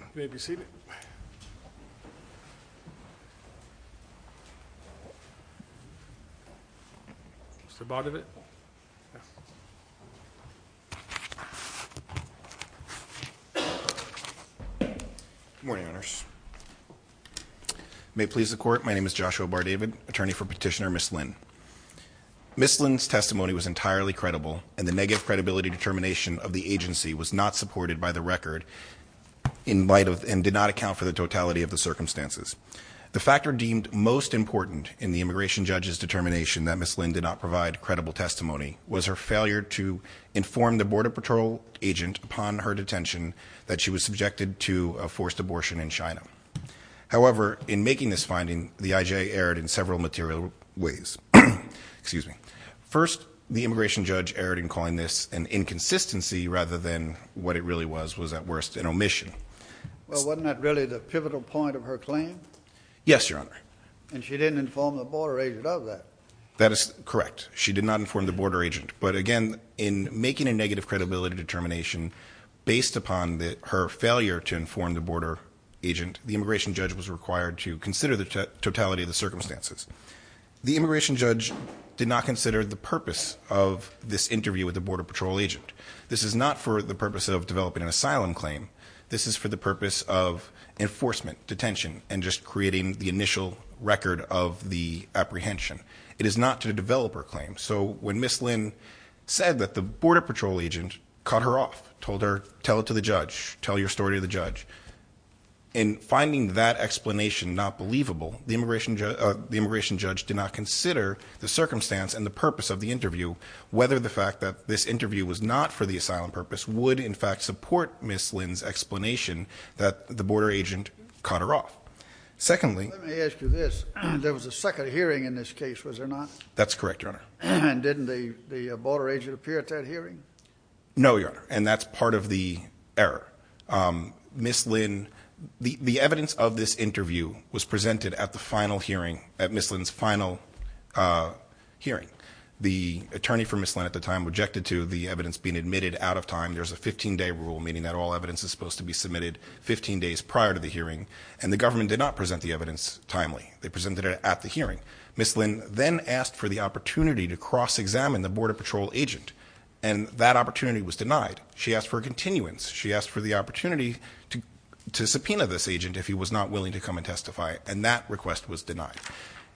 You may be seated. Mr. Bardavid. Good morning, Owners. May it please the Court, my name is Joshua Bardavid, attorney for Petitioner Miss Lin. Miss Lin's testimony was entirely credible and the negative credibility determination of the agency was not supported by the record in light of and did not account for the totality of the circumstances. The factor deemed most important in the immigration judge's determination that Miss Lin did not provide credible testimony was her failure to inform the Border Patrol agent upon her detention that she was subjected to a forced abortion in China. However, in making this finding, the IJA erred in several material ways. First, the immigration judge erred in calling this an inconsistency rather than what it really was, was at worst an omission. Wasn't that really the pivotal point of her claim? Yes, Your Honor. And she didn't inform the border agent of that? That is correct. She did not inform the border agent, but again, in making a negative credibility determination based upon that her failure to inform the border agent, the immigration judge was required to consider the totality of the circumstances. The immigration judge did not consider the purpose of this interview with the Border Patrol agent. This is not for the purpose of developing an asylum claim. This is for the purpose of enforcement, detention, and just creating the initial record of the apprehension. It is not to develop her claim. So when Miss Lin said that the Border Patrol agent cut her off, told her, tell it to the judge, tell your story to the judge, in finding that explanation not believable, the immigration judge did not consider the circumstance and the purpose of the interview, whether the fact that this interview was not for the asylum purpose would, in fact, support Miss Lin's explanation that the border agent cut her off. Secondly... Let me ask you this. There was a second hearing in this case, was there not? That's correct, Your Honor. And didn't the border agent appear at that hearing? No, Your Honor, and that's part of the matter. Miss Lin... The evidence of this interview was presented at the final hearing, at Miss Lin's final hearing. The attorney for Miss Lin at the time objected to the evidence being admitted out of time. There's a 15-day rule, meaning that all evidence is supposed to be submitted 15 days prior to the hearing, and the government did not present the evidence timely. They presented it at the hearing. Miss Lin then asked for the opportunity to cross-examine the Border Patrol agent, and that opportunity was denied. She asked for a continuance. She asked for the opportunity to subpoena this agent if he was not willing to come and testify, and that request was denied.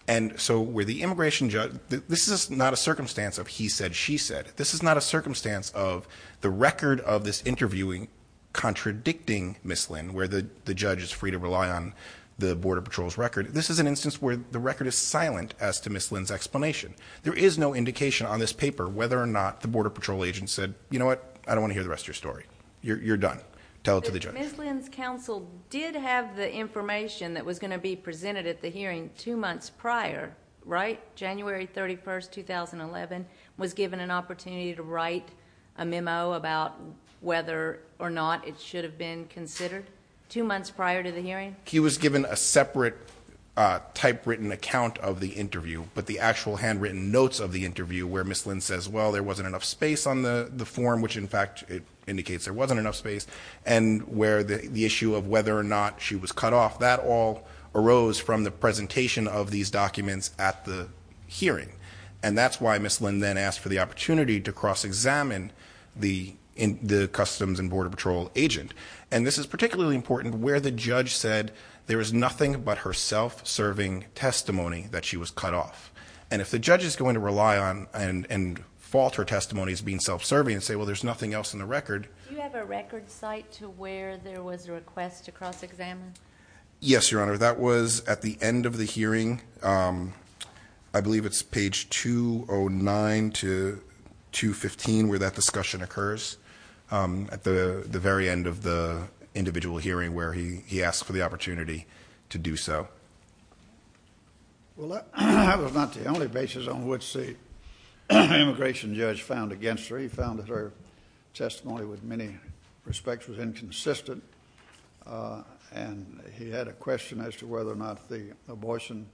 And so, where the immigration judge... This is not a circumstance of he said, she said. This is not a circumstance of the record of this interviewing contradicting Miss Lin, where the judge is free to rely on the Border Patrol's record. This is an instance where the record is silent as to Miss Lin's explanation. There is no indication on this paper whether or not the Border Patrol agent said, you know what, I don't want to hear the rest of your story. You're done. Tell it to the judge. Ms. Lin's counsel did have the information that was going to be presented at the hearing two months prior, right? January 31st, 2011, was given an opportunity to write a memo about whether or not it should have been considered two months prior to the hearing? He was given a separate typewritten account of the interview, but the actual handwritten notes of the interview where Miss Lin says, well, there wasn't enough space on the form, which in fact, it indicates there wasn't enough space, and where the issue of whether or not she was cut off, that all arose from the presentation of these documents at the hearing. And that's why Miss Lin then asked for the opportunity to cross-examine the Customs and Border Patrol agent. And this is particularly important where the judge said there is nothing but her self-serving testimony that she was cut off. And if the judge is saying that her testimony is being self-serving, and say, well, there's nothing else in the record. Do you have a record site to where there was a request to cross-examine? Yes, Your Honor. That was at the end of the hearing. I believe it's page 209 to 215, where that discussion occurs, at the very end of the individual hearing where he asked for the opportunity to do so. Well, that was not the only basis on which the immigration judge found against her. He found that her testimony, with many respects, was inconsistent, and he had a question as to whether or not the abortion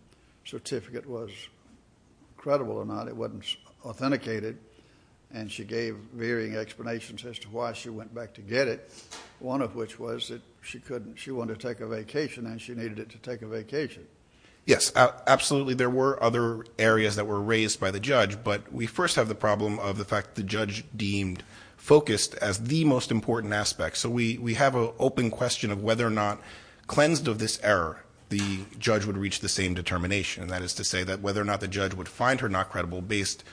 certificate was credible or not. It wasn't authenticated, and she gave varying explanations as to why she went back to get it, one of which was that she wanted to take a vacation, and she needed it to take a vacation. Yes, absolutely, there were other areas that were raised by the judge, but we first have the problem of the fact the judge deemed focused as the most important aspect. So we have an open question of whether or not, cleansed of this error, the judge would reach the same determination. That is to say that whether or not the judge would find her not credible based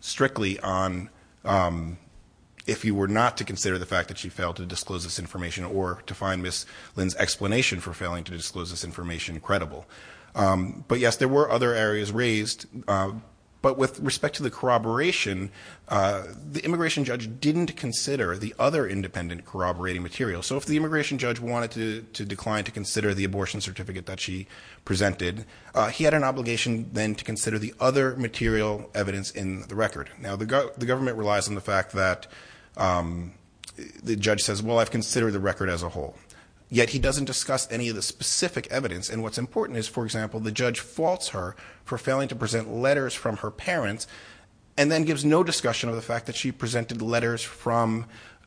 strictly on if you were not to consider the fact that she failed to disclose this information or to find Ms. Lynn's explanation for failing to disclose this information credible. But yes, there were other areas raised, but with respect to the corroboration, the immigration judge didn't consider the other independent corroborating material. So if the immigration judge wanted to decline to consider the abortion certificate that she presented, he had an obligation then to consider the other material evidence in the record. Now, the government relies on the fact that the judge says, well, I've considered the record as a whole, yet he doesn't discuss any of the specific evidence. And what's important is, for example, the judge faults her for failing to present letters from her parents, and then gives no discussion of the fact that she presented letters from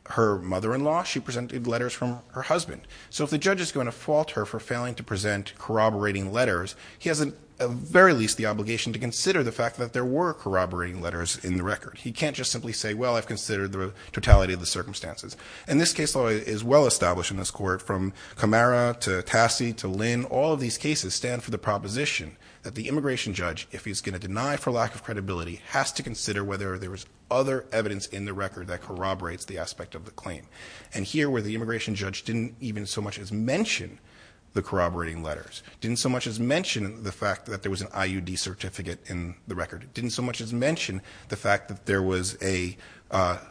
her mother-in-law, she presented letters from her husband. So if the judge is going to fault her for failing to present corroborating letters, he has at the very least the obligation to consider the fact that there were other evidence in the record. He can't just simply say, well, I've considered the totality of the circumstances. And this case law is well established in this court, from Camara to Tassi to Lynn, all of these cases stand for the proposition that the immigration judge, if he's going to deny for lack of credibility, has to consider whether there was other evidence in the record that corroborates the aspect of the claim. And here, where the immigration judge didn't even so much as mention the corroborating letters, didn't so much as mention the fact that there was an IUD certificate in the record, didn't so much as mention the fact that there was a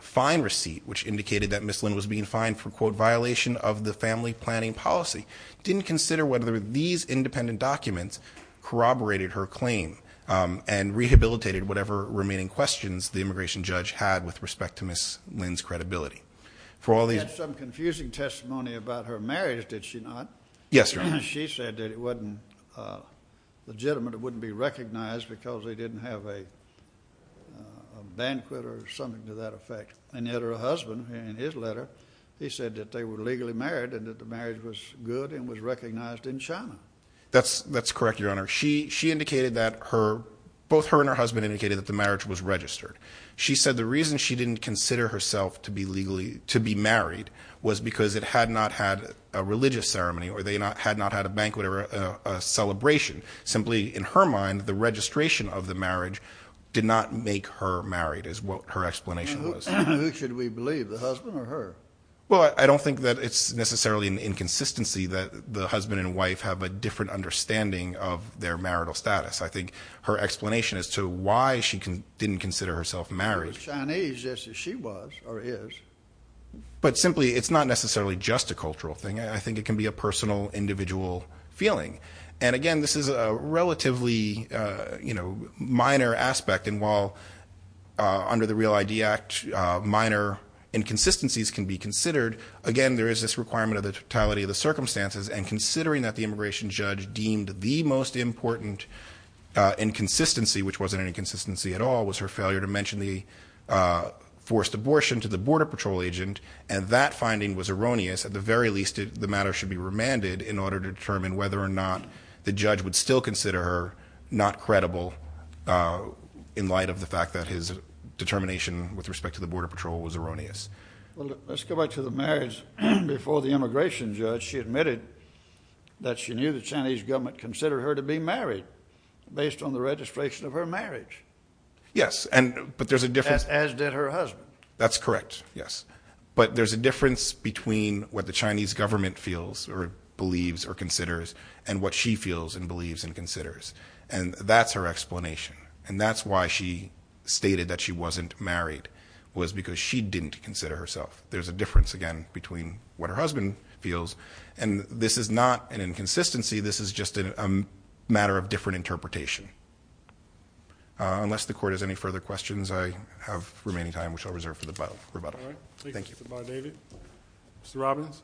fine receipt which indicated that Ms. Lynn was being fined for, quote, violation of the family planning policy, didn't consider whether these independent documents corroborated her claim and rehabilitated whatever remaining questions the immigration judge had with respect to Ms. Lynn's credibility. For all these... He had some confusing testimony about her marriage, did she not? Yes, Your Honor. She said that it wasn't legitimate, it wouldn't be recognized because they didn't have a banquet or something to that effect. And yet her husband, in his letter, he said that they were legally married and that the marriage was good and was recognized in China. That's correct, Your Honor. She indicated that her... both her and her husband indicated that the marriage was registered. She said the reason she didn't consider herself to be legally... to be married was because it had not had a religious ceremony or they had not had a banquet or a celebration. Simply, in her mind, the registration of the marriage did not make her married is what her explanation was. Who should we believe, the husband or her? Well, I don't think that it's necessarily an inconsistency that the husband and wife have a different understanding of their marital status. I think her explanation as to why she didn't consider herself married... She was Chinese just as she was, or is. But simply, it's not necessarily just a cultural thing. I think it can be a personal, individual feeling. And again, this is a relatively, you know, minor aspect. And while under the REAL ID Act, minor inconsistencies can be considered, again, there is this requirement of the totality of the circumstances. And considering that the immigration judge deemed the most important inconsistency, which wasn't an inconsistency at all, was her failure to mention the forced abortion to the Border Patrol agent. And that finding was erroneous. At the very least, the matter should be remanded in order to determine whether or not the judge would still consider her not credible in light of the fact that his determination with respect to the Border Patrol was erroneous. Well, let's go back to the marriage. Before the immigration judge, she admitted that she knew the Chinese government considered her to be married based on the registration of her marriage. Yes, but there's a difference. As did her husband. That's correct, yes. But there's a difference between what the Chinese government feels, or believes, or considers, and what she feels, and believes, and considers. And that's her explanation. And that's why she stated that she wasn't married, was because she didn't consider herself. There's a difference, again, between what her husband feels. And this is not an inconsistency. This is just a matter of different interpretation. Unless the Court has any further questions, I have remaining time, which I'll reserve for the rebuttal. All right. Thank you, Mr. Barnaby. Mr. Robbins.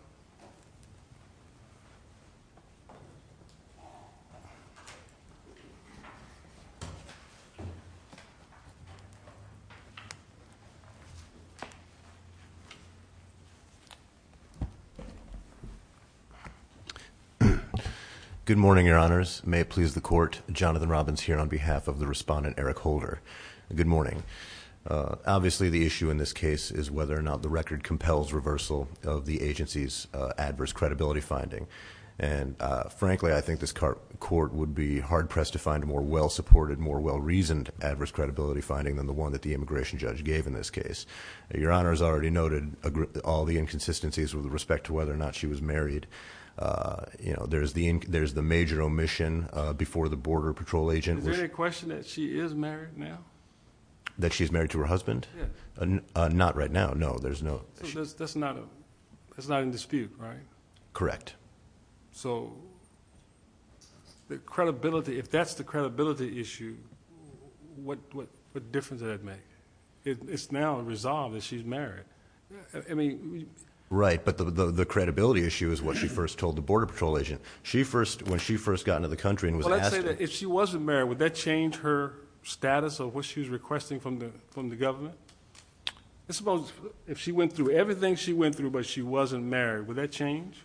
Good morning, Your Honors. May it please the Court, Jonathan Robbins here on behalf of the respondent, Eric Holder. Good morning. Obviously, the record compels reversal of the agency's adverse credibility finding. And frankly, I think this Court would be hard-pressed to find a more well- supported, more well-reasoned adverse credibility finding than the one that the immigration judge gave in this case. Your Honors already noted all the inconsistencies with respect to whether or not she was married. You know, there's the major omission before the Border Patrol agent. Is there any question that she is married now? That she's married to her husband? Yes. Not right now. No, there's no... That's not in dispute, right? Correct. So, the credibility... if that's the credibility issue, what difference does that make? It's now resolved that she's married. I mean... Right. But the credibility issue is what she first told the Border Patrol agent. When she first got into the country and was asked... Well, let's say that if she wasn't married, would that change her status of what she was requesting from the government? Let's suppose if she went through everything she went through, but she wasn't married, would that change?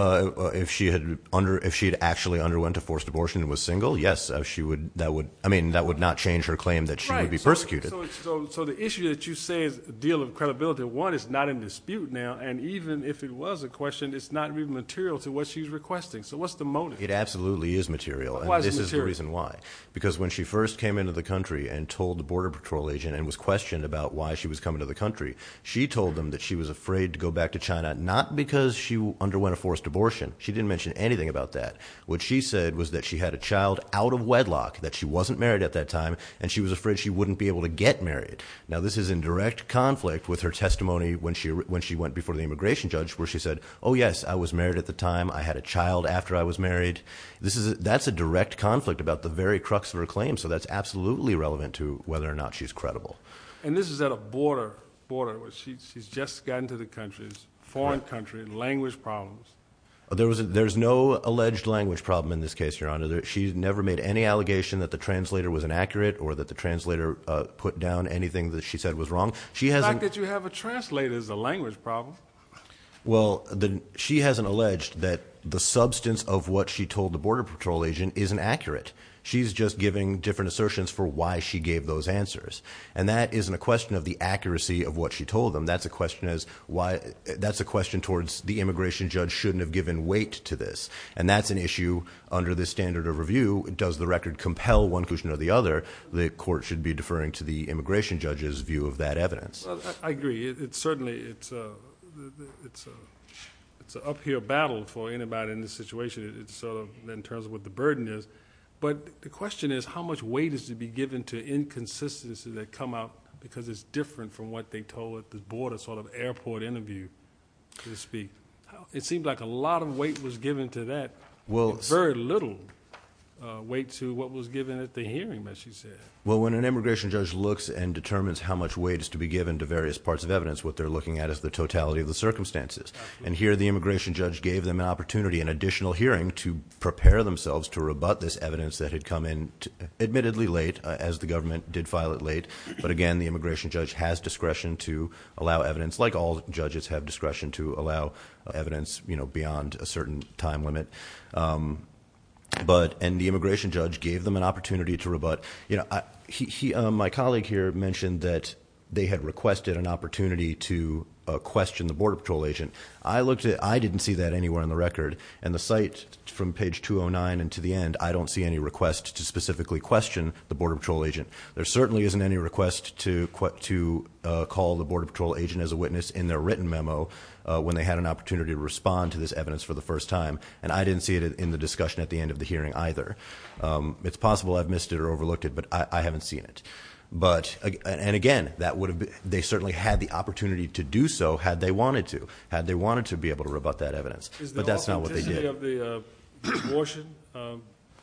If she had actually underwent a forced abortion and was single, yes. That would... I mean, that would not change her claim that she would be persecuted. Right. So, the issue that you say is the deal of credibility, one, is not in dispute now. And even if it was a question, it's not even material to what she's requesting. So, what's the motive? It absolutely is material. Why is it material? Because when she first came into the country and told the Border Patrol agent and was questioned about why she was coming to the country, she told them that she was afraid to go back to China, not because she underwent a forced abortion. She didn't mention anything about that. What she said was that she had a child out of wedlock, that she wasn't married at that time, and she was afraid she wouldn't be able to get married. Now, this is in direct conflict with her testimony when she went before the immigration judge where she said, oh, yes, I was married at the time. I had a child after I was married. So, this is in direct conflict about the very crux of her claim. So, that's absolutely relevant to whether or not she's credible. And this is at a border. She's just gotten to the country, foreign country, language problems. There's no alleged language problem in this case, Your Honor. She's never made any allegation that the translator was inaccurate or that the translator put down anything that she said was wrong. The fact that you have a translator is a language problem. Well, she hasn't alleged that the substance of what she told the Border Patrol agent isn't accurate. She's just giving different assertions for why she gave those answers. And that isn't a question of the accuracy of what she told them. That's a question towards the immigration judge shouldn't have given weight to this. And that's an issue under this standard of review. Does the record compel one conclusion or the other? The court should be deferring to the immigration judge's view of that evidence. Well, I agree. Certainly, it's an uphill battle for anybody in this situation. It's sort of in terms of what the burden is. But the question is, how much weight is to be given to inconsistencies that come out because it's different from what they told at the border, sort of airport interview, so to speak. It seems like a lot of weight was given to that. Very little weight to what was given at the hearing that she said. Well, when an immigration judge looks and determines how much weight is to be given to various parts of evidence, what they're looking at is the totality of the circumstances. And here, the immigration judge gave them an opportunity, an additional hearing, to prepare themselves to rebut this evidence that had come in admittedly late, as the government did file it late. But again, the immigration judge has discretion to allow evidence, like all judges have discretion to allow evidence beyond a certain time limit. And the immigration judge gave them an opportunity to rebut. My colleague here mentioned that they had requested an opportunity to I didn't see that anywhere in the record. And the site from page 209 and to the end, I don't see any request to specifically question the Border Patrol agent. There certainly isn't any request to call the Border Patrol agent as a witness in their written memo when they had an opportunity to respond to this evidence for the first time. And I didn't see it in the discussion at the end of the hearing either. It's possible I've missed it or overlooked it, but I haven't seen it. And again, they certainly had the opportunity to do so had they wanted to, had they wanted to be able to rebut that evidence. But that's not what they did. Is the authenticity of the abortion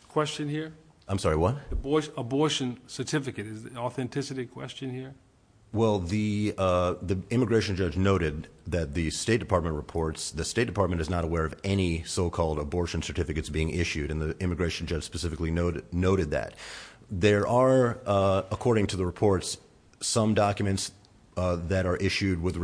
question here? I'm sorry, what? The abortion certificate. Is the authenticity question here? Well, the immigration judge noted that the State Department reports, the State Department is not aware of any so-called abortion certificates being issued, and the immigration judge specifically noted that. There are, according to the reports, some documents that are issued with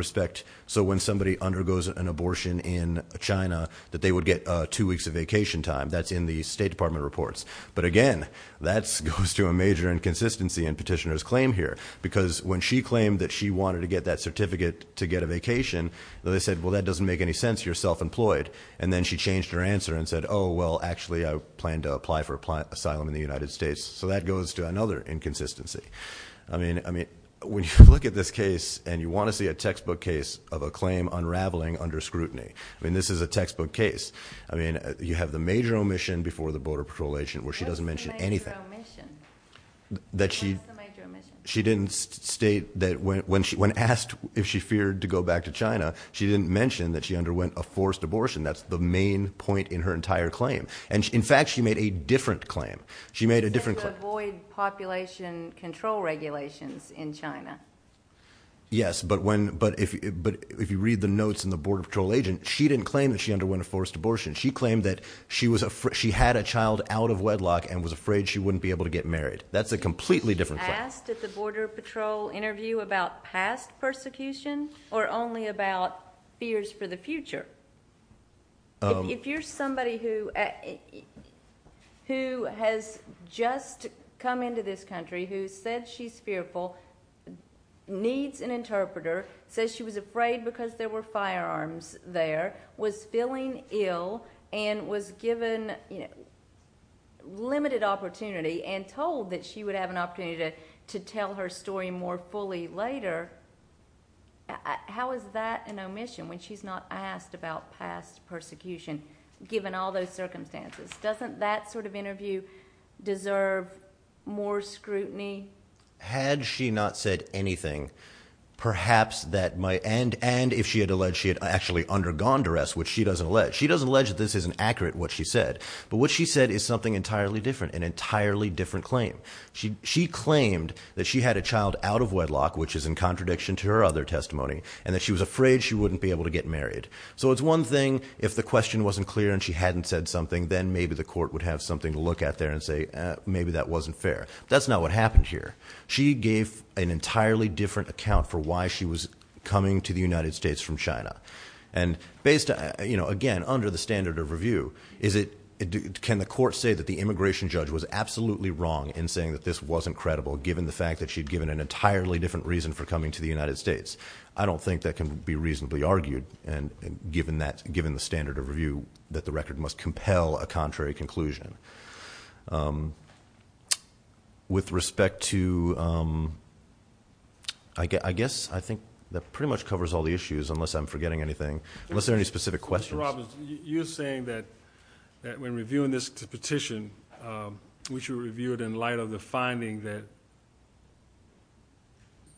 China that they would get two weeks of vacation time. That's in the State Department reports. But again, that goes to a major inconsistency in Petitioner's claim here. Because when she claimed that she wanted to get that certificate to get a vacation, they said, well, that doesn't make any sense. You're self-employed. And then she changed her answer and said, oh, well, actually, I plan to apply for asylum in the United States. So that goes to another inconsistency. I mean, when you look at this case and you want to see a textbook case of a I mean, this is a textbook case. I mean, you have the major omission before the Border Patrol agent, where she doesn't mention anything. What's the major omission? What is the major omission? She didn't state that when asked if she feared to go back to China, she didn't mention that she underwent a forced abortion. That's the main point in her entire claim. And, in fact, she made a different claim. She made a different claim. She said to avoid population control regulations in China. Yes, but if you read the notes in the Border Patrol agent, she didn't claim that she underwent a forced abortion. She claimed that she had a child out of wedlock and was afraid she wouldn't be able to get married. That's a completely different claim. She asked at the Border Patrol interview about past persecution or only about fears for the future. If you're somebody who has just come into this country, who said she's fearful, needs an interpreter, says she was afraid because there were firearms there, was feeling ill, and was given limited opportunity and told that she would have an opportunity to tell her story more fully later, how is that an omission when she's not asked about past persecution, given all those circumstances? Doesn't that sort of interview deserve more scrutiny? Had she not said anything, perhaps that might, and if she had alleged she had actually undergone duress, which she doesn't allege, she doesn't allege that this isn't accurate, what she said. But what she said is something entirely different, an entirely different claim. She claimed that she had a child out of wedlock, which is in contradiction to her other testimony, and that she was afraid she wouldn't be able to get married. So it's one thing if the question wasn't clear and she hadn't said something, then maybe the court would have something to look at there and say maybe that wasn't fair. That's not what happened here. She gave an entirely different account for why she was coming to the United States from China. And again, under the standard of review, can the court say that the immigration judge was absolutely wrong in saying that this wasn't credible, given the fact that she'd given an entirely different reason for coming to the United States? I don't think that can be reasonably argued, given the standard of review, that the record must compel a contrary conclusion. With respect to, I guess I think that pretty much covers all the issues, unless I'm forgetting anything, unless there are any specific questions. Mr. Robbins, you're saying that when reviewing this petition, we should review it in light of the finding that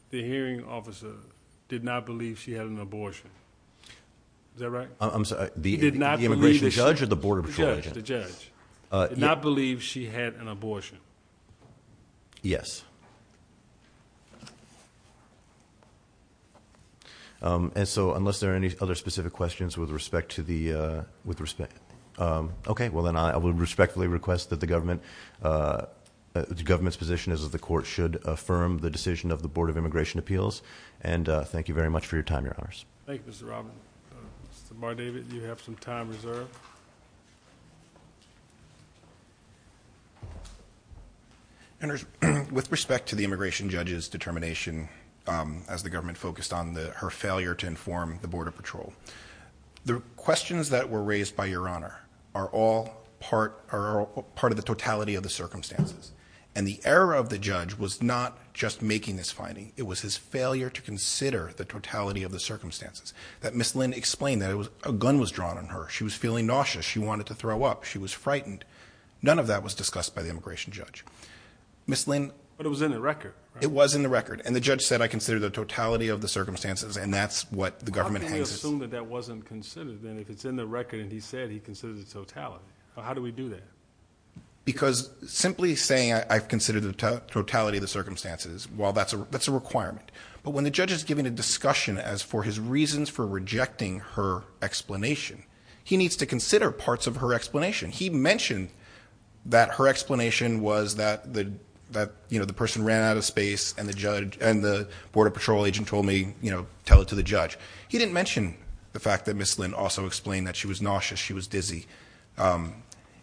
the hearing officer did not believe she had an abortion. Is that right? I'm sorry, the immigration judge or the border patrol judge? The judge. Did not believe she had an abortion. Yes. And so unless there are any other specific questions with respect to the... Okay, well then I will respectfully request that the government... the government's position is that the court should affirm the decision of the Board of Immigration Appeals. And thank you very much for your time, Your Honors. Thank you, Mr. Robbins. Mr. Bardavid, you have some time reserved. With respect to the immigration judge's determination, as the government focused on her failure to inform the border patrol, the questions that were raised by Your Honor are all part of the totality of the circumstances. And the error of the judge was not just making this finding. It was his failure to consider the totality of the circumstances. That Ms. Lynn explained that a gun was drawn on her. She was feeling nauseous. She wanted to throw up. She was frightened. None of that was discussed by the immigration judge. Ms. Lynn... But it was in the record. It was in the record. And the judge said, I consider the totality of the circumstances, and that's what the government... How can you assume that that wasn't considered? And if it's in the record and he said he considered the totality, how do we do that? Because simply saying, I consider the totality of the circumstances, well, that's a requirement. But when the judge is giving a discussion as for his reasons for rejecting her explanation, he needs to consider parts of her explanation. And the Border Patrol agent told me, you know, tell it to the judge. He didn't mention the fact that Ms. Lynn also explained that she was nauseous. She was dizzy.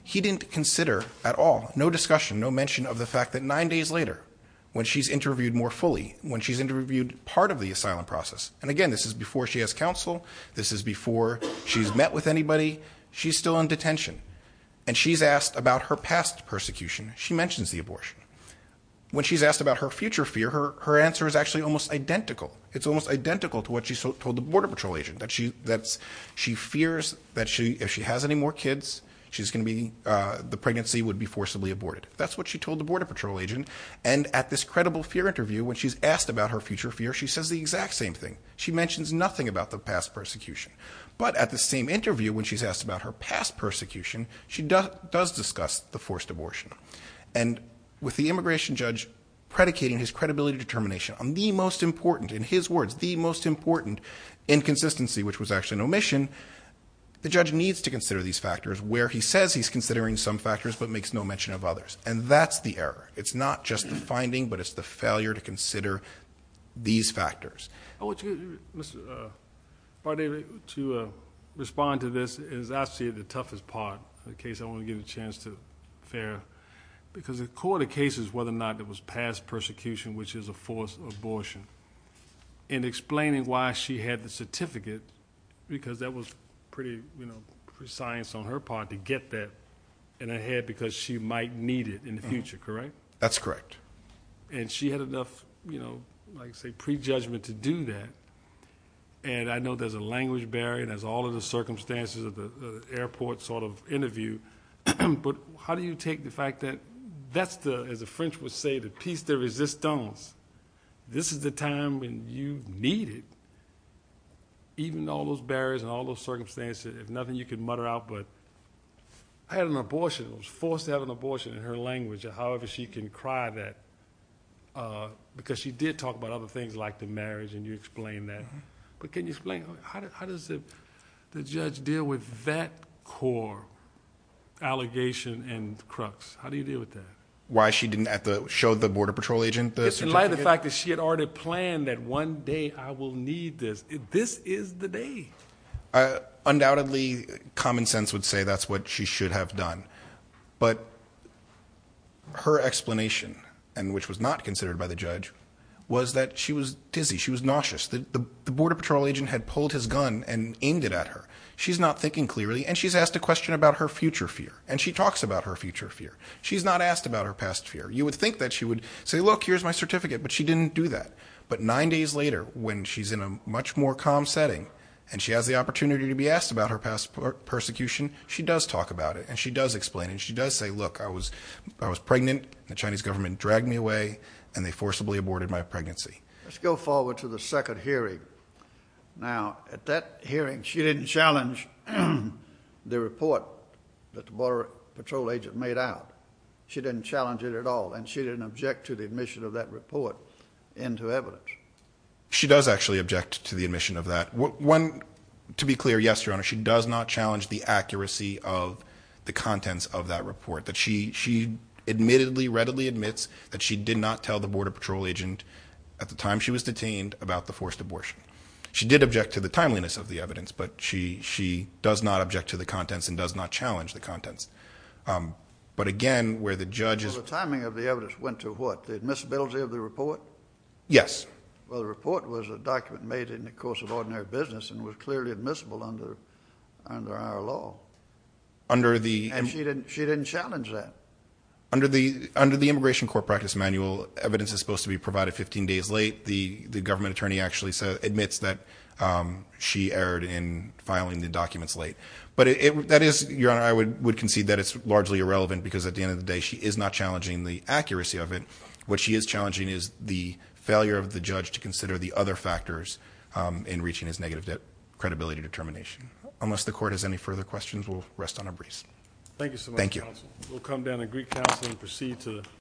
He didn't consider at all, no discussion, no mention of the fact that nine days later, when she's interviewed more fully, when she's interviewed part of the asylum process... And again, this is before she has counsel. This is before she's met with anybody. She's still in detention. And she's asked about her past persecution. She mentions the abortion. When she's asked about her future fear, her answer is actually almost identical. It's almost identical to what she told the Border Patrol agent, that she fears that if she has any more kids, she's going to be... the pregnancy would be forcibly aborted. That's what she told the Border Patrol agent. And at this credible fear interview, when she's asked about her future fear, she says the exact same thing. She mentions nothing about the past persecution. But at the same interview, when she's asked about her past persecution, she does discuss the forced abortion. And with the immigration judge predicating his credibility determination on the most important, in his words, the most important inconsistency, which was actually an omission, the judge needs to consider these factors, where he says he's considering some factors, but makes no mention of others. And that's the error. It's not just the finding, but it's the failure to consider these factors. Mr. Bardee, to respond to this, as I see it, the toughest part, the case I want to give a chance to Farrah, because the core of the case is whether or not there was past persecution, which is a forced abortion. And explaining why she had the certificate, because that was pretty, you know, precise on her part, to get that in her head, because she might need it in the future, correct? That's correct. And she had enough, you know, like I say, prejudgment to do that. And I know there's a language barrier. There's all of the circumstances of the airport sort of interview. But how do you take the fact that that's the, as the French would say, the piece de resistance. This is the time when you need it, even all those barriers and all those circumstances. If nothing, you can mutter out, but I had an abortion. I was forced to have an abortion, in her language, however she can cry that, because she did talk about other things like the marriage, and you explained that. But can you explain how does the judge deal with that core allegation and crux? How do you deal with that? Why she didn't show the Border Patrol agent the certificate? It's in light of the fact that she had already planned that one day I will need this. This is the day. Undoubtedly, common sense would say that's what she should have done. But her explanation, and which was not considered by the judge, was that she was dizzy. She was nauseous. The Border Patrol agent had pulled his gun and aimed it at her. She's not thinking clearly, and she's asked a question about her future fear, and she talks about her future fear. She's not asked about her past fear. You would think that she would say, look, here's my certificate, but she didn't do that. But nine days later, when she's in a much more calm setting, and she has the opportunity to be asked about her past persecution, she does talk about it, and she does explain it, and she does say, look, I was pregnant, the Chinese government dragged me away, and they forcibly aborted my pregnancy. Let's go forward to the second hearing. Now, at that hearing, she didn't challenge the report that the Border Patrol agent made out. She didn't challenge it at all, and she didn't object to the admission of that report into evidence. She does actually object to the admission of that. To be clear, yes, Your Honor, she does not challenge the accuracy of the contents of that report. She admittedly, readily admits that she did not tell the Border Patrol agent at the time she was detained about the forced abortion. She did object to the timeliness of the evidence, but she does not object to the contents and does not challenge the contents. But again, where the judge is— So the timing of the evidence went to what, the admissibility of the report? Yes. Well, the report was a document made in the course of ordinary business and was clearly admissible under our law. Under the— And she didn't challenge that. Under the Immigration Court Practice Manual, evidence is supposed to be provided 15 days late. The government attorney actually admits that she erred in filing the documents late. But that is—Your Honor, I would concede that it's largely irrelevant because at the end of the day, she is not challenging the accuracy of it. What she is challenging is the failure of the judge to consider the other factors in reaching his negative credibility determination. Unless the Court has any further questions, we'll rest on a breeze. Thank you so much, Counsel. Thank you. We'll come down to Greek Council and proceed to—